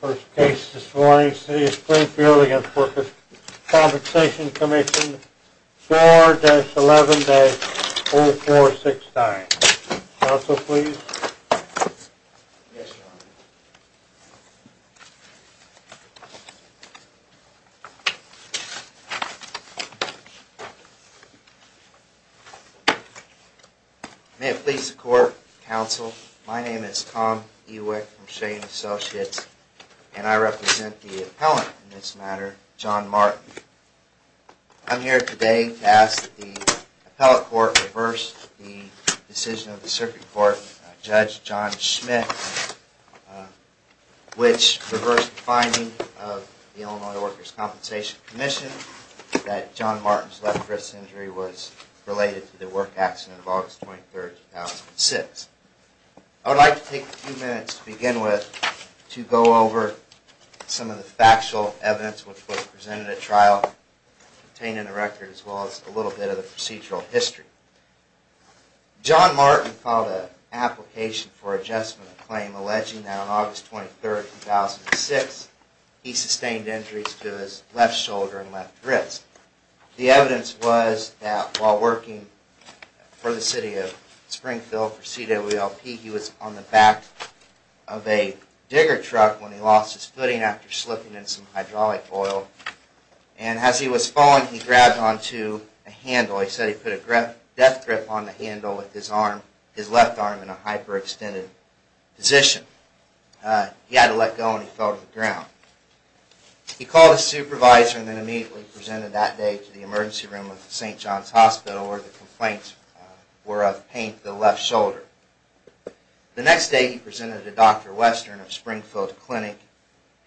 First case this morning, City of Springfield v. Workers' Compensation Comm'n, 4-11-0469. Counsel, please. Yes, Your Honor. May it please the Court, Counsel, my name is Tom Ewick from Shea & Associates, and I represent the appellant in this matter, John Martin. I'm here today to ask that the appellate court reverse the decision of the circuit court, Judge John Schmidt, which reversed the finding of the Illinois Workers' Compensation Commission that John Martin's left wrist injury was related to the work accident of August 23, 2006. I would like to take a few minutes to begin with to go over some of the factual evidence which was presented at trial, containing the record as well as a little bit of the procedural history. John Martin filed an application for adjustment of claim alleging that on August 23, 2006, he sustained injuries to his left shoulder and left wrist. The evidence was that while working for the City of Springfield for CWLP, he was on the back of a digger truck when he lost his footing after slipping in some hydraulic oil. And as he was falling, he grabbed onto a handle. He said he put a death grip on the handle with his left arm in a hyper-extended position. He had to let go and he fell to the ground. He called his supervisor and then immediately presented that day to the emergency room of St. John's Hospital where the complaints were of pain to the left shoulder. The next day he presented to Dr. Western of Springfield Clinic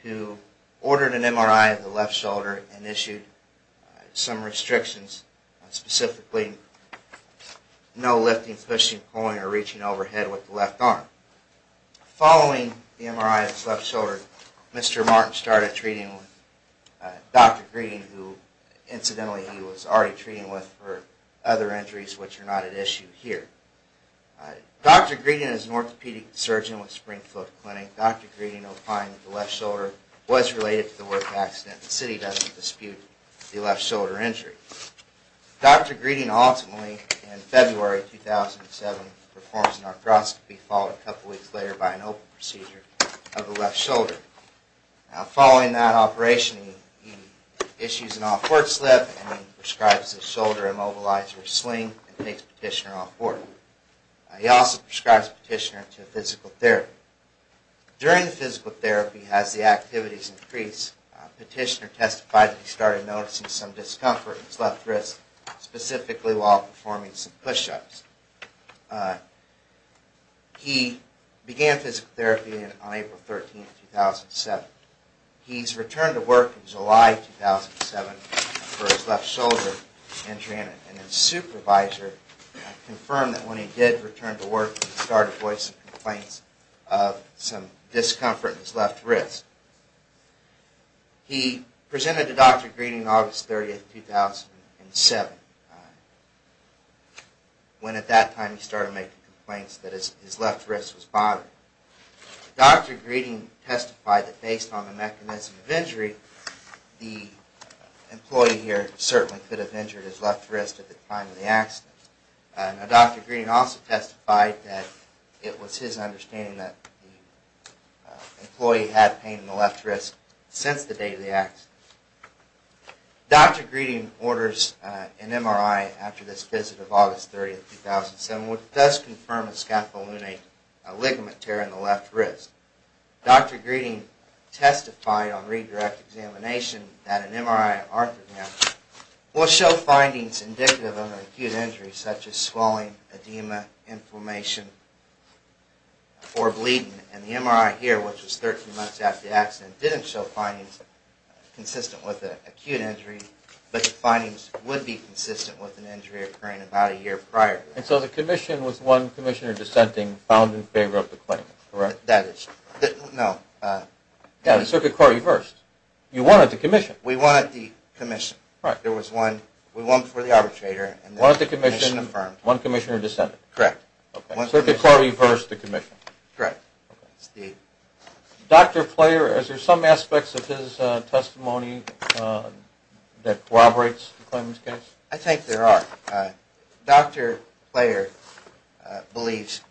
who ordered an MRI of the left shoulder and issued some restrictions, specifically no lifting, pushing, pulling, or reaching overhead with the left arm. Following the MRI of his left shoulder, Mr. Martin started treating with Dr. Greeding who, incidentally, he was already treating with for other injuries which are not at issue here. Dr. Greeding is an orthopedic surgeon with Springfield Clinic. Dr. Greeding opined that the left shoulder was related to the work accident. The City doesn't dispute the left shoulder injury. Dr. Greeding ultimately, in February 2007, performs an arthroscopy followed a couple weeks later by an open procedure of the left shoulder. Following that operation, he issues an off-board slip and prescribes a shoulder immobilizer swing and takes Petitioner off-board. He also prescribes Petitioner to physical therapy. During the physical therapy, as the activities increased, Petitioner testified that he started noticing some discomfort in his left wrist, specifically while performing some push-ups. He began physical therapy on April 13, 2007. He returned to work in July 2007 for his left shoulder injury and his supervisor confirmed that when he did return to work, he started voicing complaints of some discomfort in his left wrist. He presented to Dr. Greeding on August 30, 2007, when at that time he started making complaints that his left wrist was bothering him. Dr. Greeding testified that based on the mechanism of injury, the employee here certainly could have injured his left wrist at the time of the accident. Dr. Greeding also testified that it was his understanding that the employee had pain in the left wrist since the day of the accident. Dr. Greeding orders an MRI after this visit of August 30, 2007, which does confirm a scapulonate ligament tear in the left wrist. Dr. Greeding testified on redirect examination that an MRI will show findings indicative of an acute injury, such as swelling, edema, inflammation, or bleeding. And the MRI here, which was 13 months after the accident, didn't show findings consistent with an acute injury, but the findings would be consistent with an injury occurring about a year prior. And so the commission was one commissioner dissenting, found in favor of the claim, correct? Yeah, the circuit court reversed. You won at the commission. We won at the commission. We won before the arbitrator. Won at the commission, one commissioner dissenting. Correct. Circuit court reversed the commission. Correct. Dr. Player, is there some aspects of his testimony that corroborates the claimant's case? I think there are. Dr. Player believes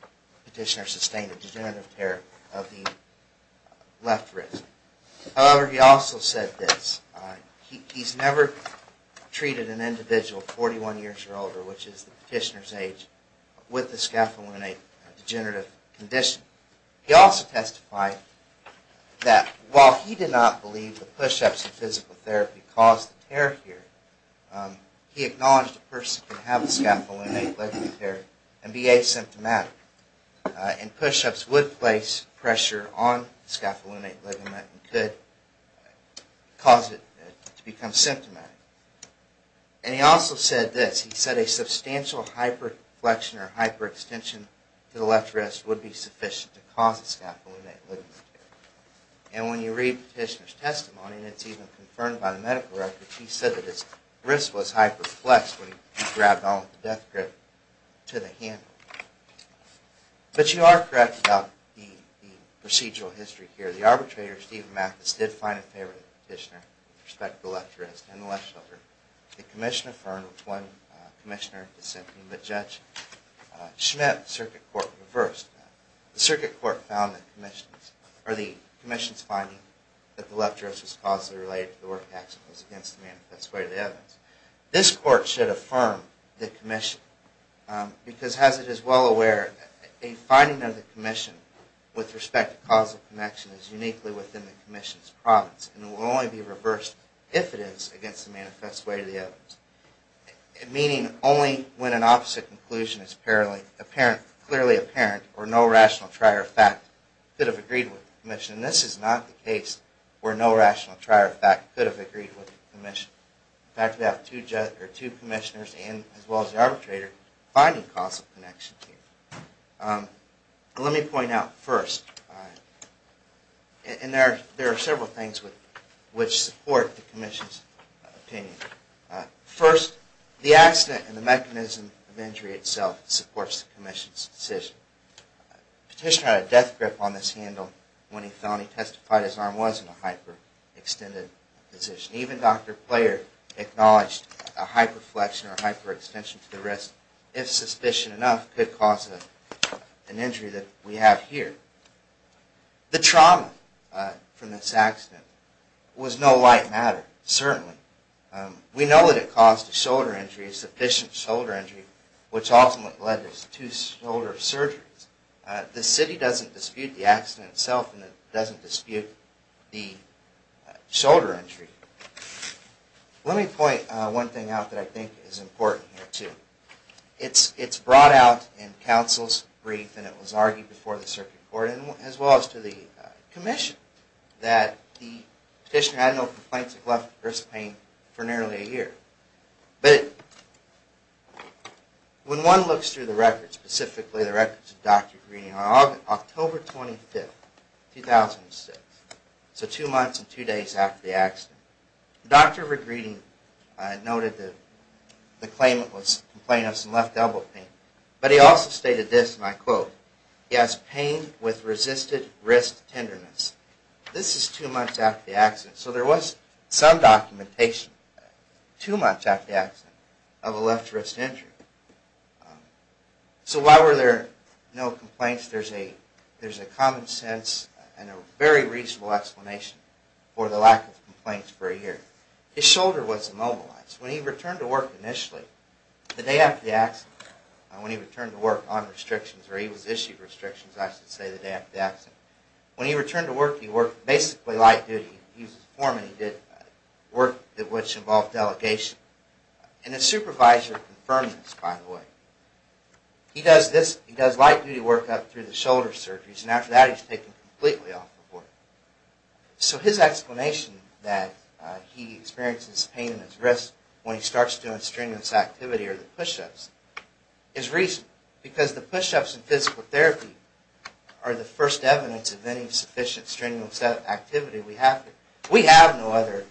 the petitioner sustained a degenerative tear of the left wrist. However, he also said this, he's never treated an individual 41 years or older, which is the petitioner's age, with a scapulonate degenerative condition. He also testified that while he did not believe the push-ups and physical therapy caused the tear here, he acknowledged a person could have a scapulonate ligament tear and be asymptomatic. And push-ups would place pressure on the scapulonate ligament and could cause it to become symptomatic. And he also said this, he said a substantial hyperflexion or hyperextension to the left wrist would be sufficient to cause a scapulonate ligament tear. And when you read the petitioner's testimony, and it's even confirmed by the medical records, he said that his wrist was hyperflexed when he grabbed onto the death grip to the hand. But you are correct about the procedural history here. The arbitrator, Stephen Mathis, did find a favor to the petitioner with respect to the left wrist and the left shoulder. The commission affirmed, which one commissioner dissented, but Judge Schmidt, the circuit court, reversed that. The circuit court found that the commission's finding that the left wrist was causally related to the work accident was against the manifest way of the evidence. This court should affirm the commission, because as it is well aware, a finding of the commission with respect to causal connection is useful. It is unique within the commission's province, and it will only be reversed if it is against the manifest way of the evidence. Meaning, only when an opposite conclusion is clearly apparent or no rational trier of fact could have agreed with the commission. And this is not the case where no rational trier of fact could have agreed with the commission. In fact, we have two commissioners, as well as the arbitrator, finding causal connection here. Let me point out first, and there are several things which support the commission's opinion. First, the accident and the mechanism of injury itself supports the commission's decision. The petitioner had a death grip on this handle when he testified his arm was in a hyperextended position. Even Dr. Player acknowledged a hyperflexion or hyperextension to the wrist, if suspicion enough, could cause an injury that we have here. The trauma from this accident was no light matter, certainly. We know that it caused a shoulder injury, a sufficient shoulder injury, which ultimately led to two shoulder surgeries. The city doesn't dispute the accident itself, and it doesn't dispute the shoulder injury. Let me point one thing out that I think is important here, too. It's brought out in counsel's brief, and it was argued before the circuit court, as well as to the commission, that the petitioner had no complaints of left wrist pain for nearly a year. But when one looks through the records, specifically the records of Dr. Greeding, on October 25, 2006, so two months and two days after the accident, Dr. Greeding noted that the claimant was complaining of some left elbow pain, but he also stated this, and I quote, he has pain with resisted wrist tenderness. This is two months after the accident, so there was some documentation, two months after the accident, of a left wrist injury. So why were there no complaints? There's a common sense and a very reasonable explanation for the lack of complaints for a year. His shoulder was immobilized. When he returned to work initially, the day after the accident, when he returned to work on restrictions, or he was issued restrictions, I should say, the day after the accident, when he returned to work, he worked basically light duty. He was a foreman. He did work which involved delegation. And his supervisor confirmed this, by the way. He does light duty work up through the shoulder surgeries, and after that, he's taken completely off the board. So his explanation that he experiences pain in his wrist when he starts doing strenuous activity or the push-ups, is reasonable, because the push-ups and physical therapy are the first evidence of any sufficient strenuous activity we have. We have no other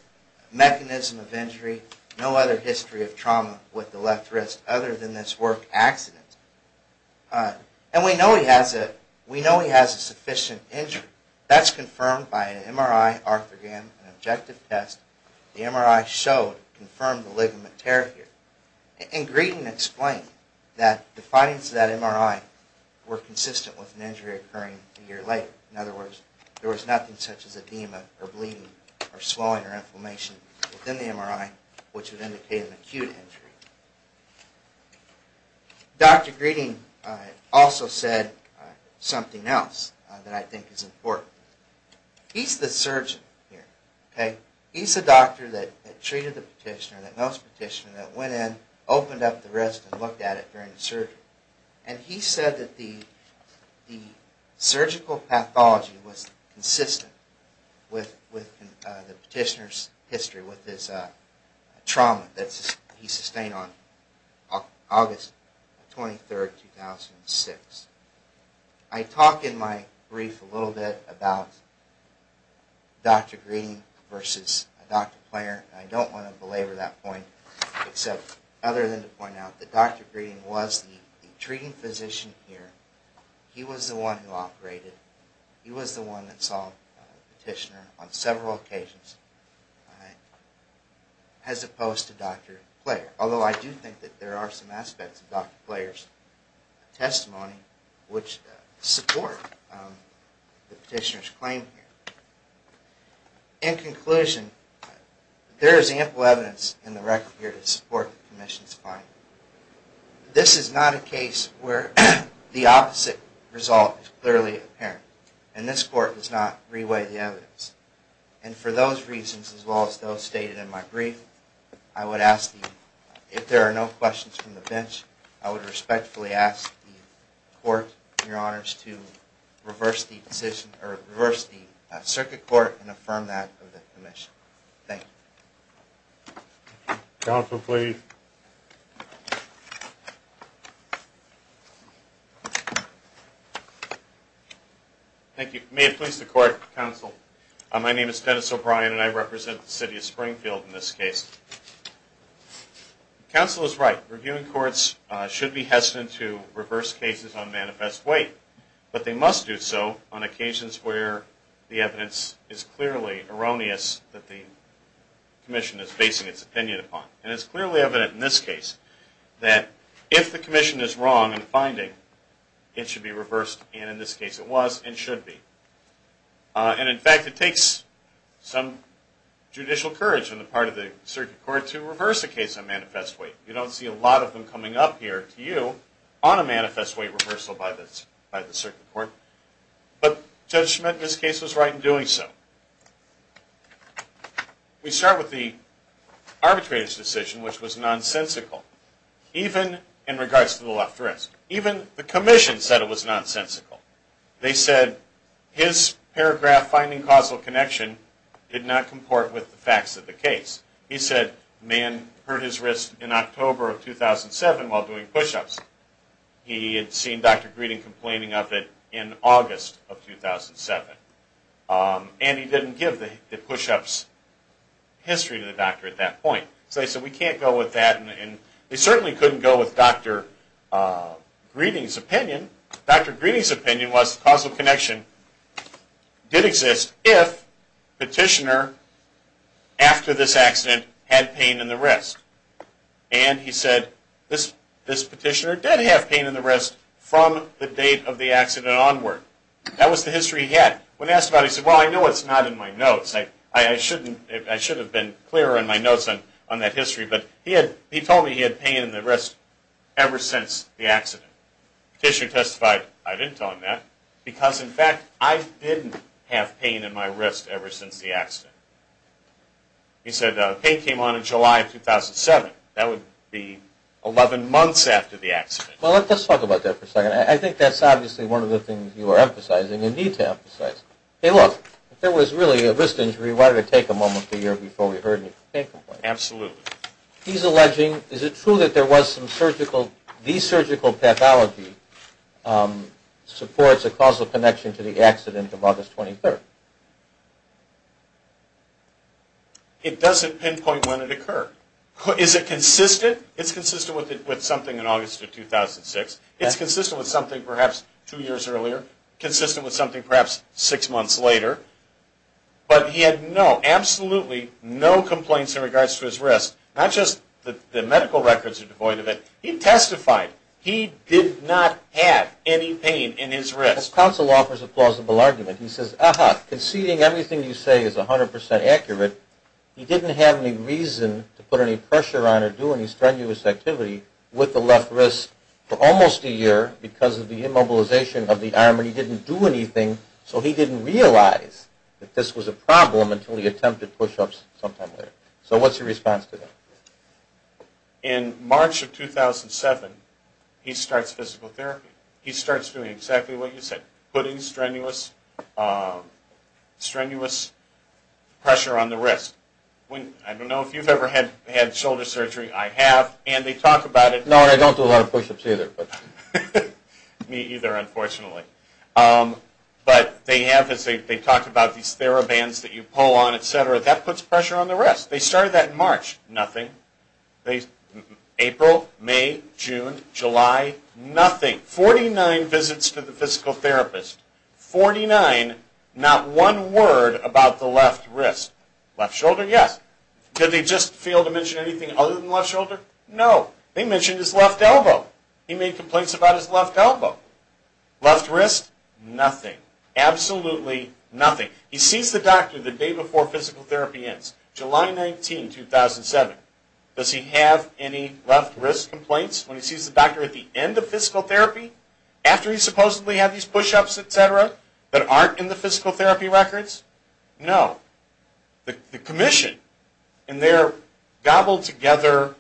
mechanism of injury, no other history of trauma with the left wrist, other than this work accident. And we know he has a sufficient injury. That's confirmed by an MRI arthrogram, an objective test. The MRI showed, confirmed the ligament tear here. And Greeding explained that the findings of that MRI were consistent with an injury occurring a year later. In other words, there was nothing such as edema or bleeding or swelling or inflammation within the MRI, which would indicate an acute injury. Dr. Greeding also said something else that I think is important. He's the surgeon here, okay. He's the doctor that treated the petitioner, that knows the petitioner, that went in, opened up the wrist, and looked at it during the surgery. And he said that the surgical pathology was consistent with the petitioner's history, with his trauma that he sustained on August 23, 2006. I talk in my brief a little bit about Dr. Greeding versus a doctor-player. I don't want to belabor that point, except other than to point out that Dr. Greeding was the treating physician here. He was the one who operated. He was the one that saw the petitioner on several occasions. As opposed to Dr. Player, although I do think that there are some aspects of Dr. Player's testimony which support the petitioner's claim here. In conclusion, there is ample evidence in the record here to support the Commission's finding. This is not a case where the opposite result is clearly apparent, and this Court does not re-weigh the evidence. And for those reasons, as well as those stated in my brief, I would ask, if there are no questions from the bench, I would respectfully ask the Court, Your Honors, to reverse the Circuit Court and affirm that of the Commission. Thank you. Counsel, please. Thank you. May it please the Court, Counsel. My name is Dennis O'Brien, and I represent the City of Springfield in this case. Counsel is right. Reviewing courts should be hesitant to reverse cases on manifest weight. But they must do so on occasions where the evidence is clearly erroneous that the Commission is basing its opinion upon. And it's clearly evident in this case that if the Commission is wrong in finding, it should be reversed, and in this case it was and should be. And in fact, it takes some judicial courage on the part of the Circuit Court to reverse a case on manifest weight. You don't see a lot of them coming up here to you on a manifest weight reversal by the Circuit Court. But Judge Schmidt in this case was right in doing so. We start with the arbitrator's decision, which was nonsensical, even in regards to the left wrist. Even the Commission said it was nonsensical. They said his paragraph, finding causal connection, did not comport with the facts of the case. He said the man hurt his wrist in October of 2007 while doing push-ups. He had seen Dr. Greeding complaining of it in August of 2007. And he didn't give the push-ups history to the doctor at that point. So they said we can't go with that, and they certainly couldn't go with Dr. Greeding's opinion. Dr. Greeding's opinion was causal connection did exist if petitioner, after this accident, had pain in the wrist. And he said this petitioner did have pain in the wrist from the date of the accident onward. That was the history he had. When asked about it, he said, well, I know it's not in my notes. I should have been clearer in my notes on that history, but he told me he had pain in the wrist ever since the accident. The petitioner testified, I didn't tell him that, because, in fact, I didn't have pain in my wrist ever since the accident. He said pain came on in July of 2007. That would be 11 months after the accident. Well, let's talk about that for a second. I think that's obviously one of the things you are emphasizing and need to emphasize. Hey, look, if there was really a wrist injury, why did it take a moment a year before we heard any complaint? Absolutely. He's alleging, is it true that there was some surgical, the surgical pathology supports a causal connection to the accident of August 23rd? It doesn't pinpoint when it occurred. Is it consistent? It's consistent with something in August of 2006. It's consistent with something perhaps two years earlier. Consistent with something perhaps six months later. But he had no, absolutely no complaints in regards to his wrist. Not just the medical records are devoid of it. He testified he did not have any pain in his wrist. The counsel offers a plausible argument. He says, aha, conceding everything you say is 100% accurate, he didn't have any reason to put any pressure on or do any strenuous activity with the left wrist for almost a year because of the immobilization of the arm. And he didn't do anything, so he didn't realize that this was a problem until he attempted pushups sometime later. So what's your response to that? In March of 2007, he starts physical therapy. He starts doing exactly what you said, putting strenuous, strenuous pressure on the wrist. I don't know if you've ever had shoulder surgery. I have. And they talk about it. No, and I don't do a lot of pushups either. Me either, unfortunately. But they have this, they talk about these TheraBands that you pull on, et cetera. That puts pressure on the wrist. They started that in March. Nothing. April, May, June, July, nothing. 49 visits to the physical therapist. 49, not one word about the left wrist. Left shoulder, yes. Did they just fail to mention anything other than left shoulder? No. They mentioned his left elbow. He made complaints about his left elbow. Left wrist, nothing. Absolutely nothing. He sees the doctor the day before physical therapy ends, July 19, 2007. Does he have any left wrist complaints when he sees the doctor at the end of physical therapy, after he supposedly had these pushups, et cetera, that aren't in the physical therapy records? No. The commission, in their gobbled together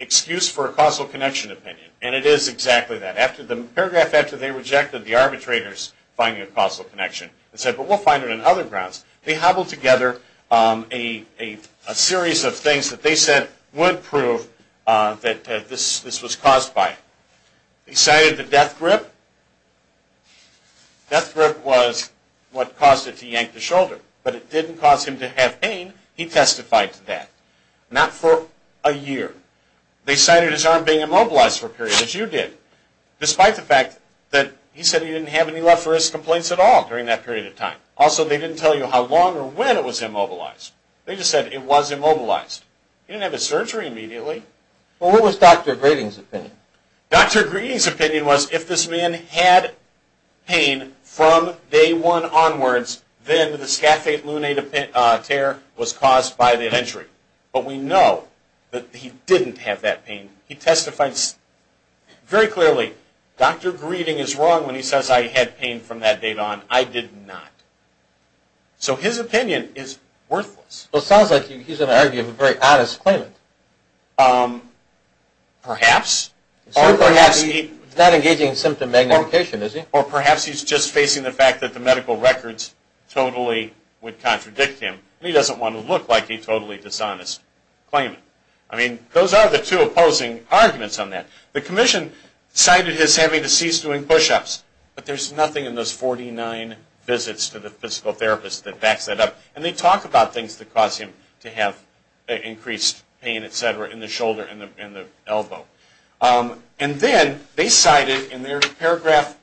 excuse for a causal connection opinion, and it is exactly that. The paragraph after they rejected the arbitrators finding a causal connection, they said, but we'll find it on other grounds. They hobbled together a series of things that they said would prove that this was caused by it. They cited the death grip. Death grip was what caused it to yank the shoulder. But it didn't cause him to have pain. He testified to that. Not for a year. They cited his arm being immobilized for a period, as you did, despite the fact that he said he didn't have any left wrist complaints at all during that period of time. Also, they didn't tell you how long or when it was immobilized. They just said it was immobilized. He didn't have his surgery immediately. Well, what was Dr. Greening's opinion? Dr. Greening's opinion was if this man had pain from day one onwards, then the scaphate lunate tear was caused by the injury. But we know that he didn't have that pain. He testifies very clearly. Dr. Greening is wrong when he says I had pain from that day on. I did not. So his opinion is worthless. Well, it sounds like he's going to argue a very honest claim. Perhaps. He's not engaging in symptom magnification, is he? Or perhaps he's just facing the fact that the medical records totally would contradict him. He doesn't want to look like a totally dishonest claimant. I mean, those are the two opposing arguments on that. The commission cited his having to cease doing push-ups, but there's nothing in those 49 visits to the physical therapist that backs that up. And they talk about things that cause him to have increased pain, et cetera, in the shoulder and the elbow. And then they cited in their paragraph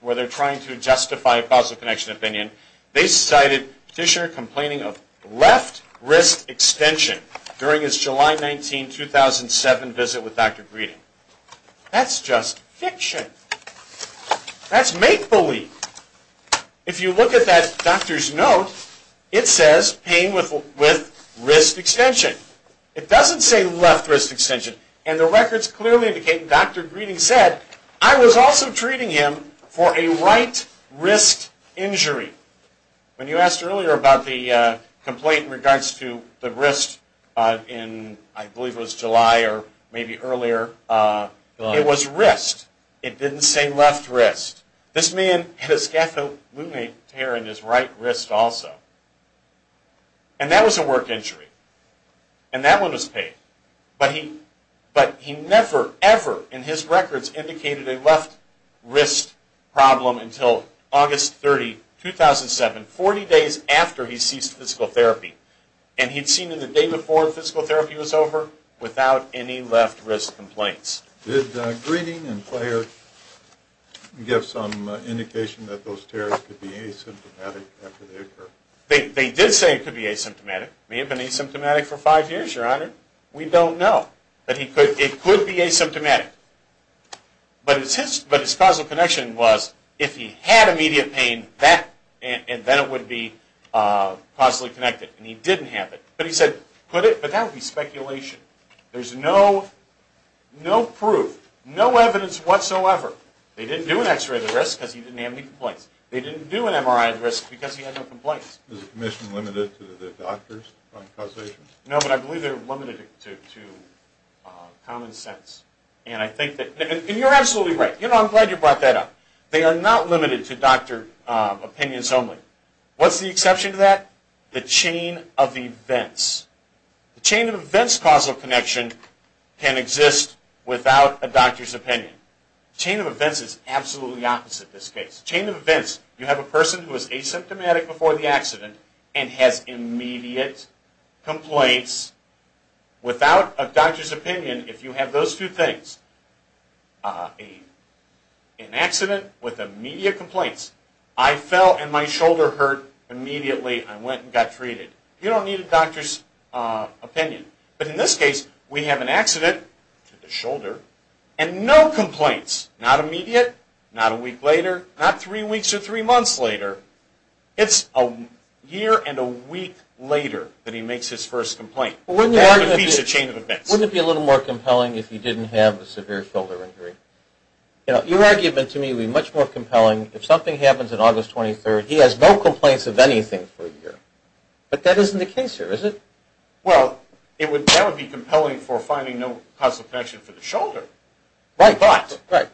where they're trying to justify a causal connection opinion, they cited Petitioner complaining of left wrist extension during his July 19, 2007 visit with Dr. Greening. That's just fiction. That's make-believe. If you look at that doctor's note, it says pain with wrist extension. It doesn't say left wrist extension. And the records clearly indicate, and Dr. Greening said, I was also treating him for a right wrist injury. When you asked earlier about the complaint in regards to the wrist in, I believe it was July or maybe earlier, it was wrist. It didn't say left wrist. This man had a scatholunate tear in his right wrist also. And that was a work injury. And that one was paid. But he never, ever in his records indicated a left wrist problem until August 30, 2007, 40 days after he ceased physical therapy. And he'd seen him the day before physical therapy was over without any left wrist complaints. Did Greening and Player give some indication that those tears could be asymptomatic after they occurred? They did say it could be asymptomatic. It may have been asymptomatic for five years, Your Honor. We don't know. But it could be asymptomatic. But his causal connection was if he had immediate pain, then it would be causally connected. And he didn't have it. But he said, could it? But that would be speculation. There's no proof, no evidence whatsoever. They didn't do an x-ray of the wrist because he didn't have any complaints. They didn't do an MRI of the wrist because he had no complaints. Was the commission limited to the doctors on causation? No, but I believe they were limited to common sense. And I think that, and you're absolutely right. You know, I'm glad you brought that up. They are not limited to doctor opinions only. What's the exception to that? The chain of events. The chain of events causal connection can exist without a doctor's opinion. The chain of events is absolutely the opposite in this case. The chain of events, you have a person who is asymptomatic before the accident and has immediate complaints without a doctor's opinion. If you have those two things, an accident with immediate complaints, I fell and my shoulder hurt immediately. I went and got treated. You don't need a doctor's opinion. But in this case, we have an accident to the shoulder and no complaints. Not immediate, not a week later, not three weeks or three months later. It's a year and a week later that he makes his first complaint. That defeats the chain of events. Wouldn't it be a little more compelling if he didn't have a severe shoulder injury? You know, your argument to me would be much more compelling. If something happens on August 23rd, he has no complaints of anything for a year. But that isn't the case here, is it? Well, that would be compelling for finding no causal connection for the shoulder. Right. But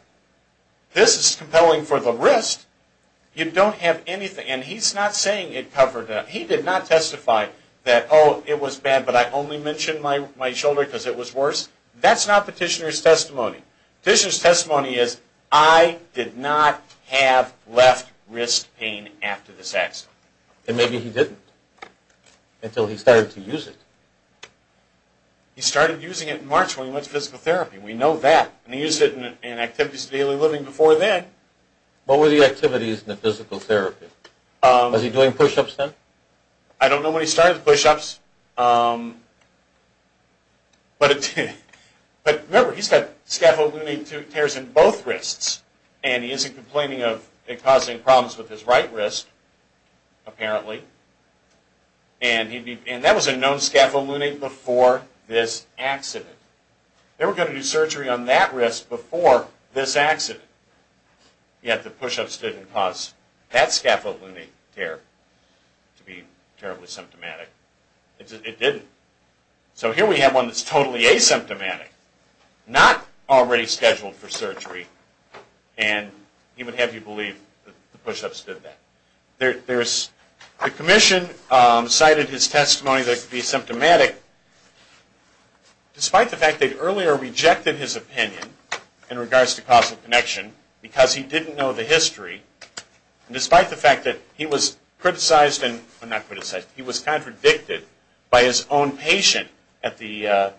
this is compelling for the wrist. You don't have anything. And he's not saying it covered that. He did not testify that, oh, it was bad, but I only mentioned my shoulder because it was worse. That's not petitioner's testimony. Petitioner's testimony is I did not have left wrist pain after this accident. And maybe he didn't until he started to use it. He started using it in March when he went to physical therapy. We know that. And he used it in activities of daily living before then. What were the activities in the physical therapy? Was he doing push-ups then? I don't know when he started the push-ups. But remember, he's got scapho-lunate tears in both wrists. And he isn't complaining of it causing problems with his right wrist, apparently. And that was a known scapho-lunate before this accident. They were going to do surgery on that wrist before this accident. Yet the push-ups didn't cause that scapho-lunate tear to be terribly symptomatic. It didn't. So here we have one that's totally asymptomatic. Not already scheduled for surgery. And he would have you believe that the push-ups did that. The commission cited his testimony that it could be symptomatic, despite the fact that they earlier rejected his opinion in regards to causal connection because he didn't know the history. Despite the fact that he was contradicted by his own patient at the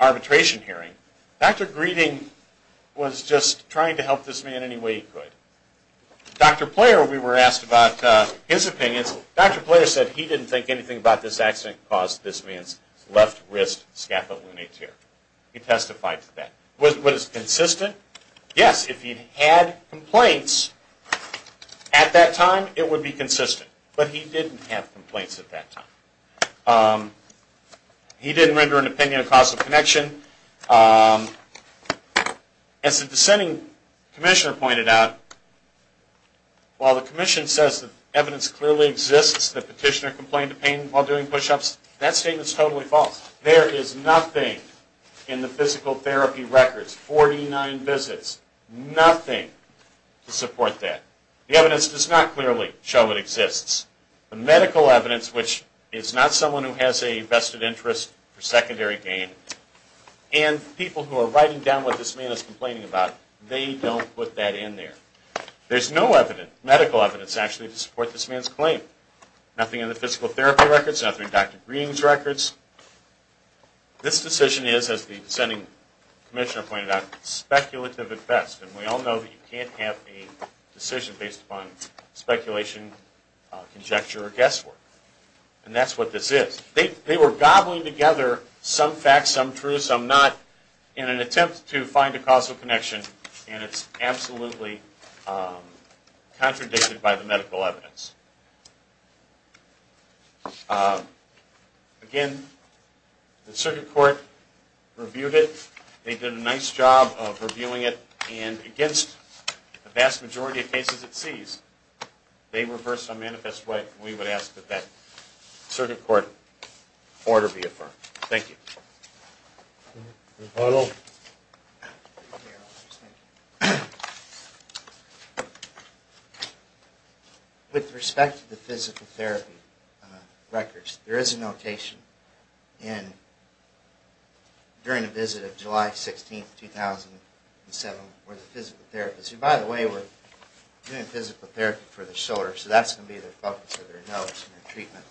arbitration hearing, Dr. Greeding was just trying to help this man any way he could. Dr. Player, we were asked about his opinions. Dr. Player said he didn't think anything about this accident caused this man's left wrist scapho-lunate tear. He testified to that. Was it consistent? Yes. If he'd had complaints at that time, it would be consistent. But he didn't have complaints at that time. He didn't render an opinion of causal connection. As the dissenting commissioner pointed out, while the commission says that evidence clearly exists that the petitioner complained of pain while doing push-ups, that statement is totally false. There is nothing in the physical therapy records, 49 visits, nothing to support that. The evidence does not clearly show it exists. The medical evidence, which is not someone who has a vested interest for secondary gain, and people who are writing down what this man is complaining about, they don't put that in there. There's no medical evidence actually to support this man's claim. Nothing in the physical therapy records, nothing in Dr. Green's records. This decision is, as the dissenting commissioner pointed out, speculative at best. And we all know that you can't have a decision based upon speculation, conjecture, or guesswork. And that's what this is. They were gobbling together some facts, some true, some not, in an attempt to find a causal connection, and it's absolutely contradicted by the medical evidence. Again, the circuit court reviewed it. They did a nice job of reviewing it, and against the vast majority of cases it sees, they reversed it in a manifest way, and we would ask that that circuit court order be affirmed. Thank you. Thank you. With respect to the physical therapy records, there is a notation during a visit of July 16, 2007, where the physical therapist, who, by the way, were doing physical therapy for the shoulder, so that's going to be the focus of their notice and their treatment,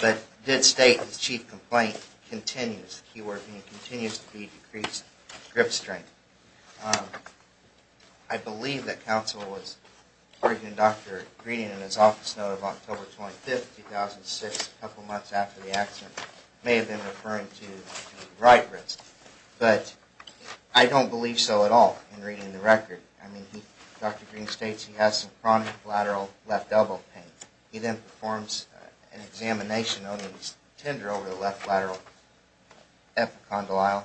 but did state his chief complaint continues. He continues to be decreased grip strength. I believe that counsel was working with Dr. Green in his office note of October 25, 2006, a couple months after the accident. May have been referring to the right wrist, but I don't believe so at all in reading the record. I mean, Dr. Green states he has some chronic lateral left elbow pain. He then performs an examination on his tender over the left lateral epicondyle,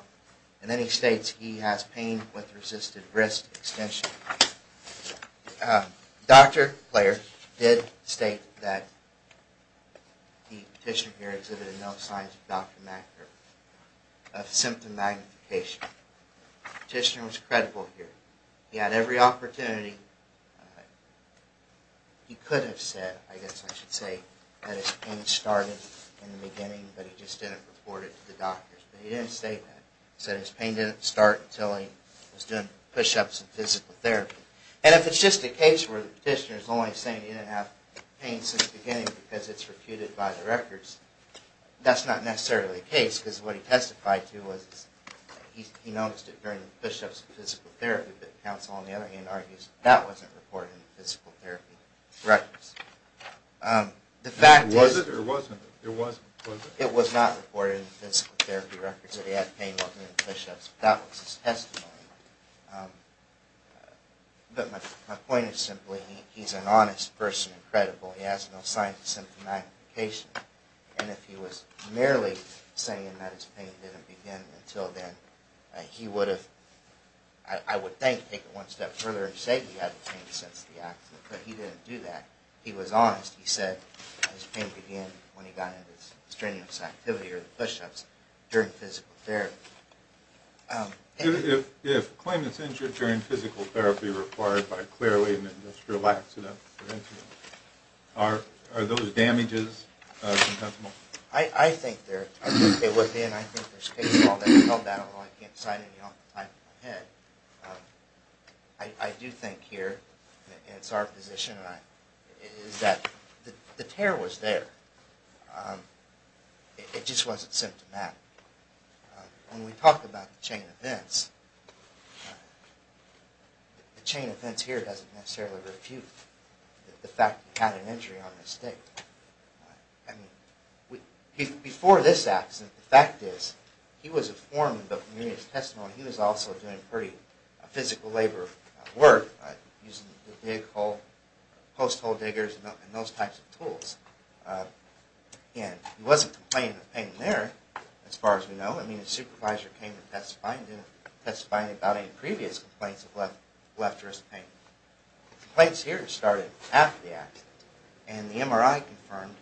and then he states he has pain with resisted wrist extension. Dr. Player did state that the petitioner here exhibited no signs of symptom magnification. The petitioner was credible here. He had every opportunity he could have said, I guess I should say, that his pain started in the beginning, but he just didn't report it to the doctors. But he didn't state that. He said his pain didn't start until he was doing push-ups and physical therapy. And if it's just a case where the petitioner is only saying he didn't have pain since the beginning because it's refuted by the records, that's not necessarily the case, because what he testified to was he noticed it during the push-ups and physical therapy, but counsel on the other hand argues that wasn't reported in the physical therapy records. The fact is... Was it or wasn't it? It wasn't, was it? It was not reported in the physical therapy records that he had pain while doing push-ups. That was his testimony. But my point is simply he's an honest person and credible. He has no signs of symptom magnification. And if he was merely saying that his pain didn't begin until then, he would have, I would think, taken it one step further and said he had pain since the accident. But he didn't do that. He was honest. He said his pain began when he got into his strenuous activity or the push-ups during physical therapy. If a claimant's injured during physical therapy required by a clear-weighted industrial accident prevention, are those damages compensable? I think they would be. And I think there's case law that held that, although I can't cite any off the top of my head. I do think here, and it's our position, is that the tear was there. It just wasn't symptomatic. When we talk about the chain of events, the chain of events here doesn't necessarily refute the fact that he had an injury on this day. I mean, before this accident, the fact is, he was informed of the community's testimony. He was also doing pretty physical labor work, using the post-hole diggers and those types of tools. And he wasn't complaining of pain there, as far as we know. I mean, his supervisor came to testify, and didn't testify about any previous complaints of left wrist pain. Complaints here started after the accident. And the MRI confirmed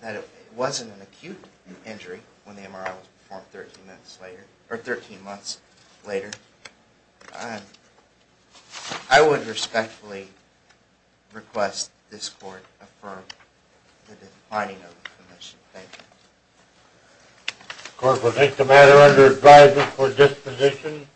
that it wasn't an acute injury when the MRI was performed 13 months later. I would respectfully request this court affirm the defining of the commission. Thank you. The court will take the matter under advisement for disposition.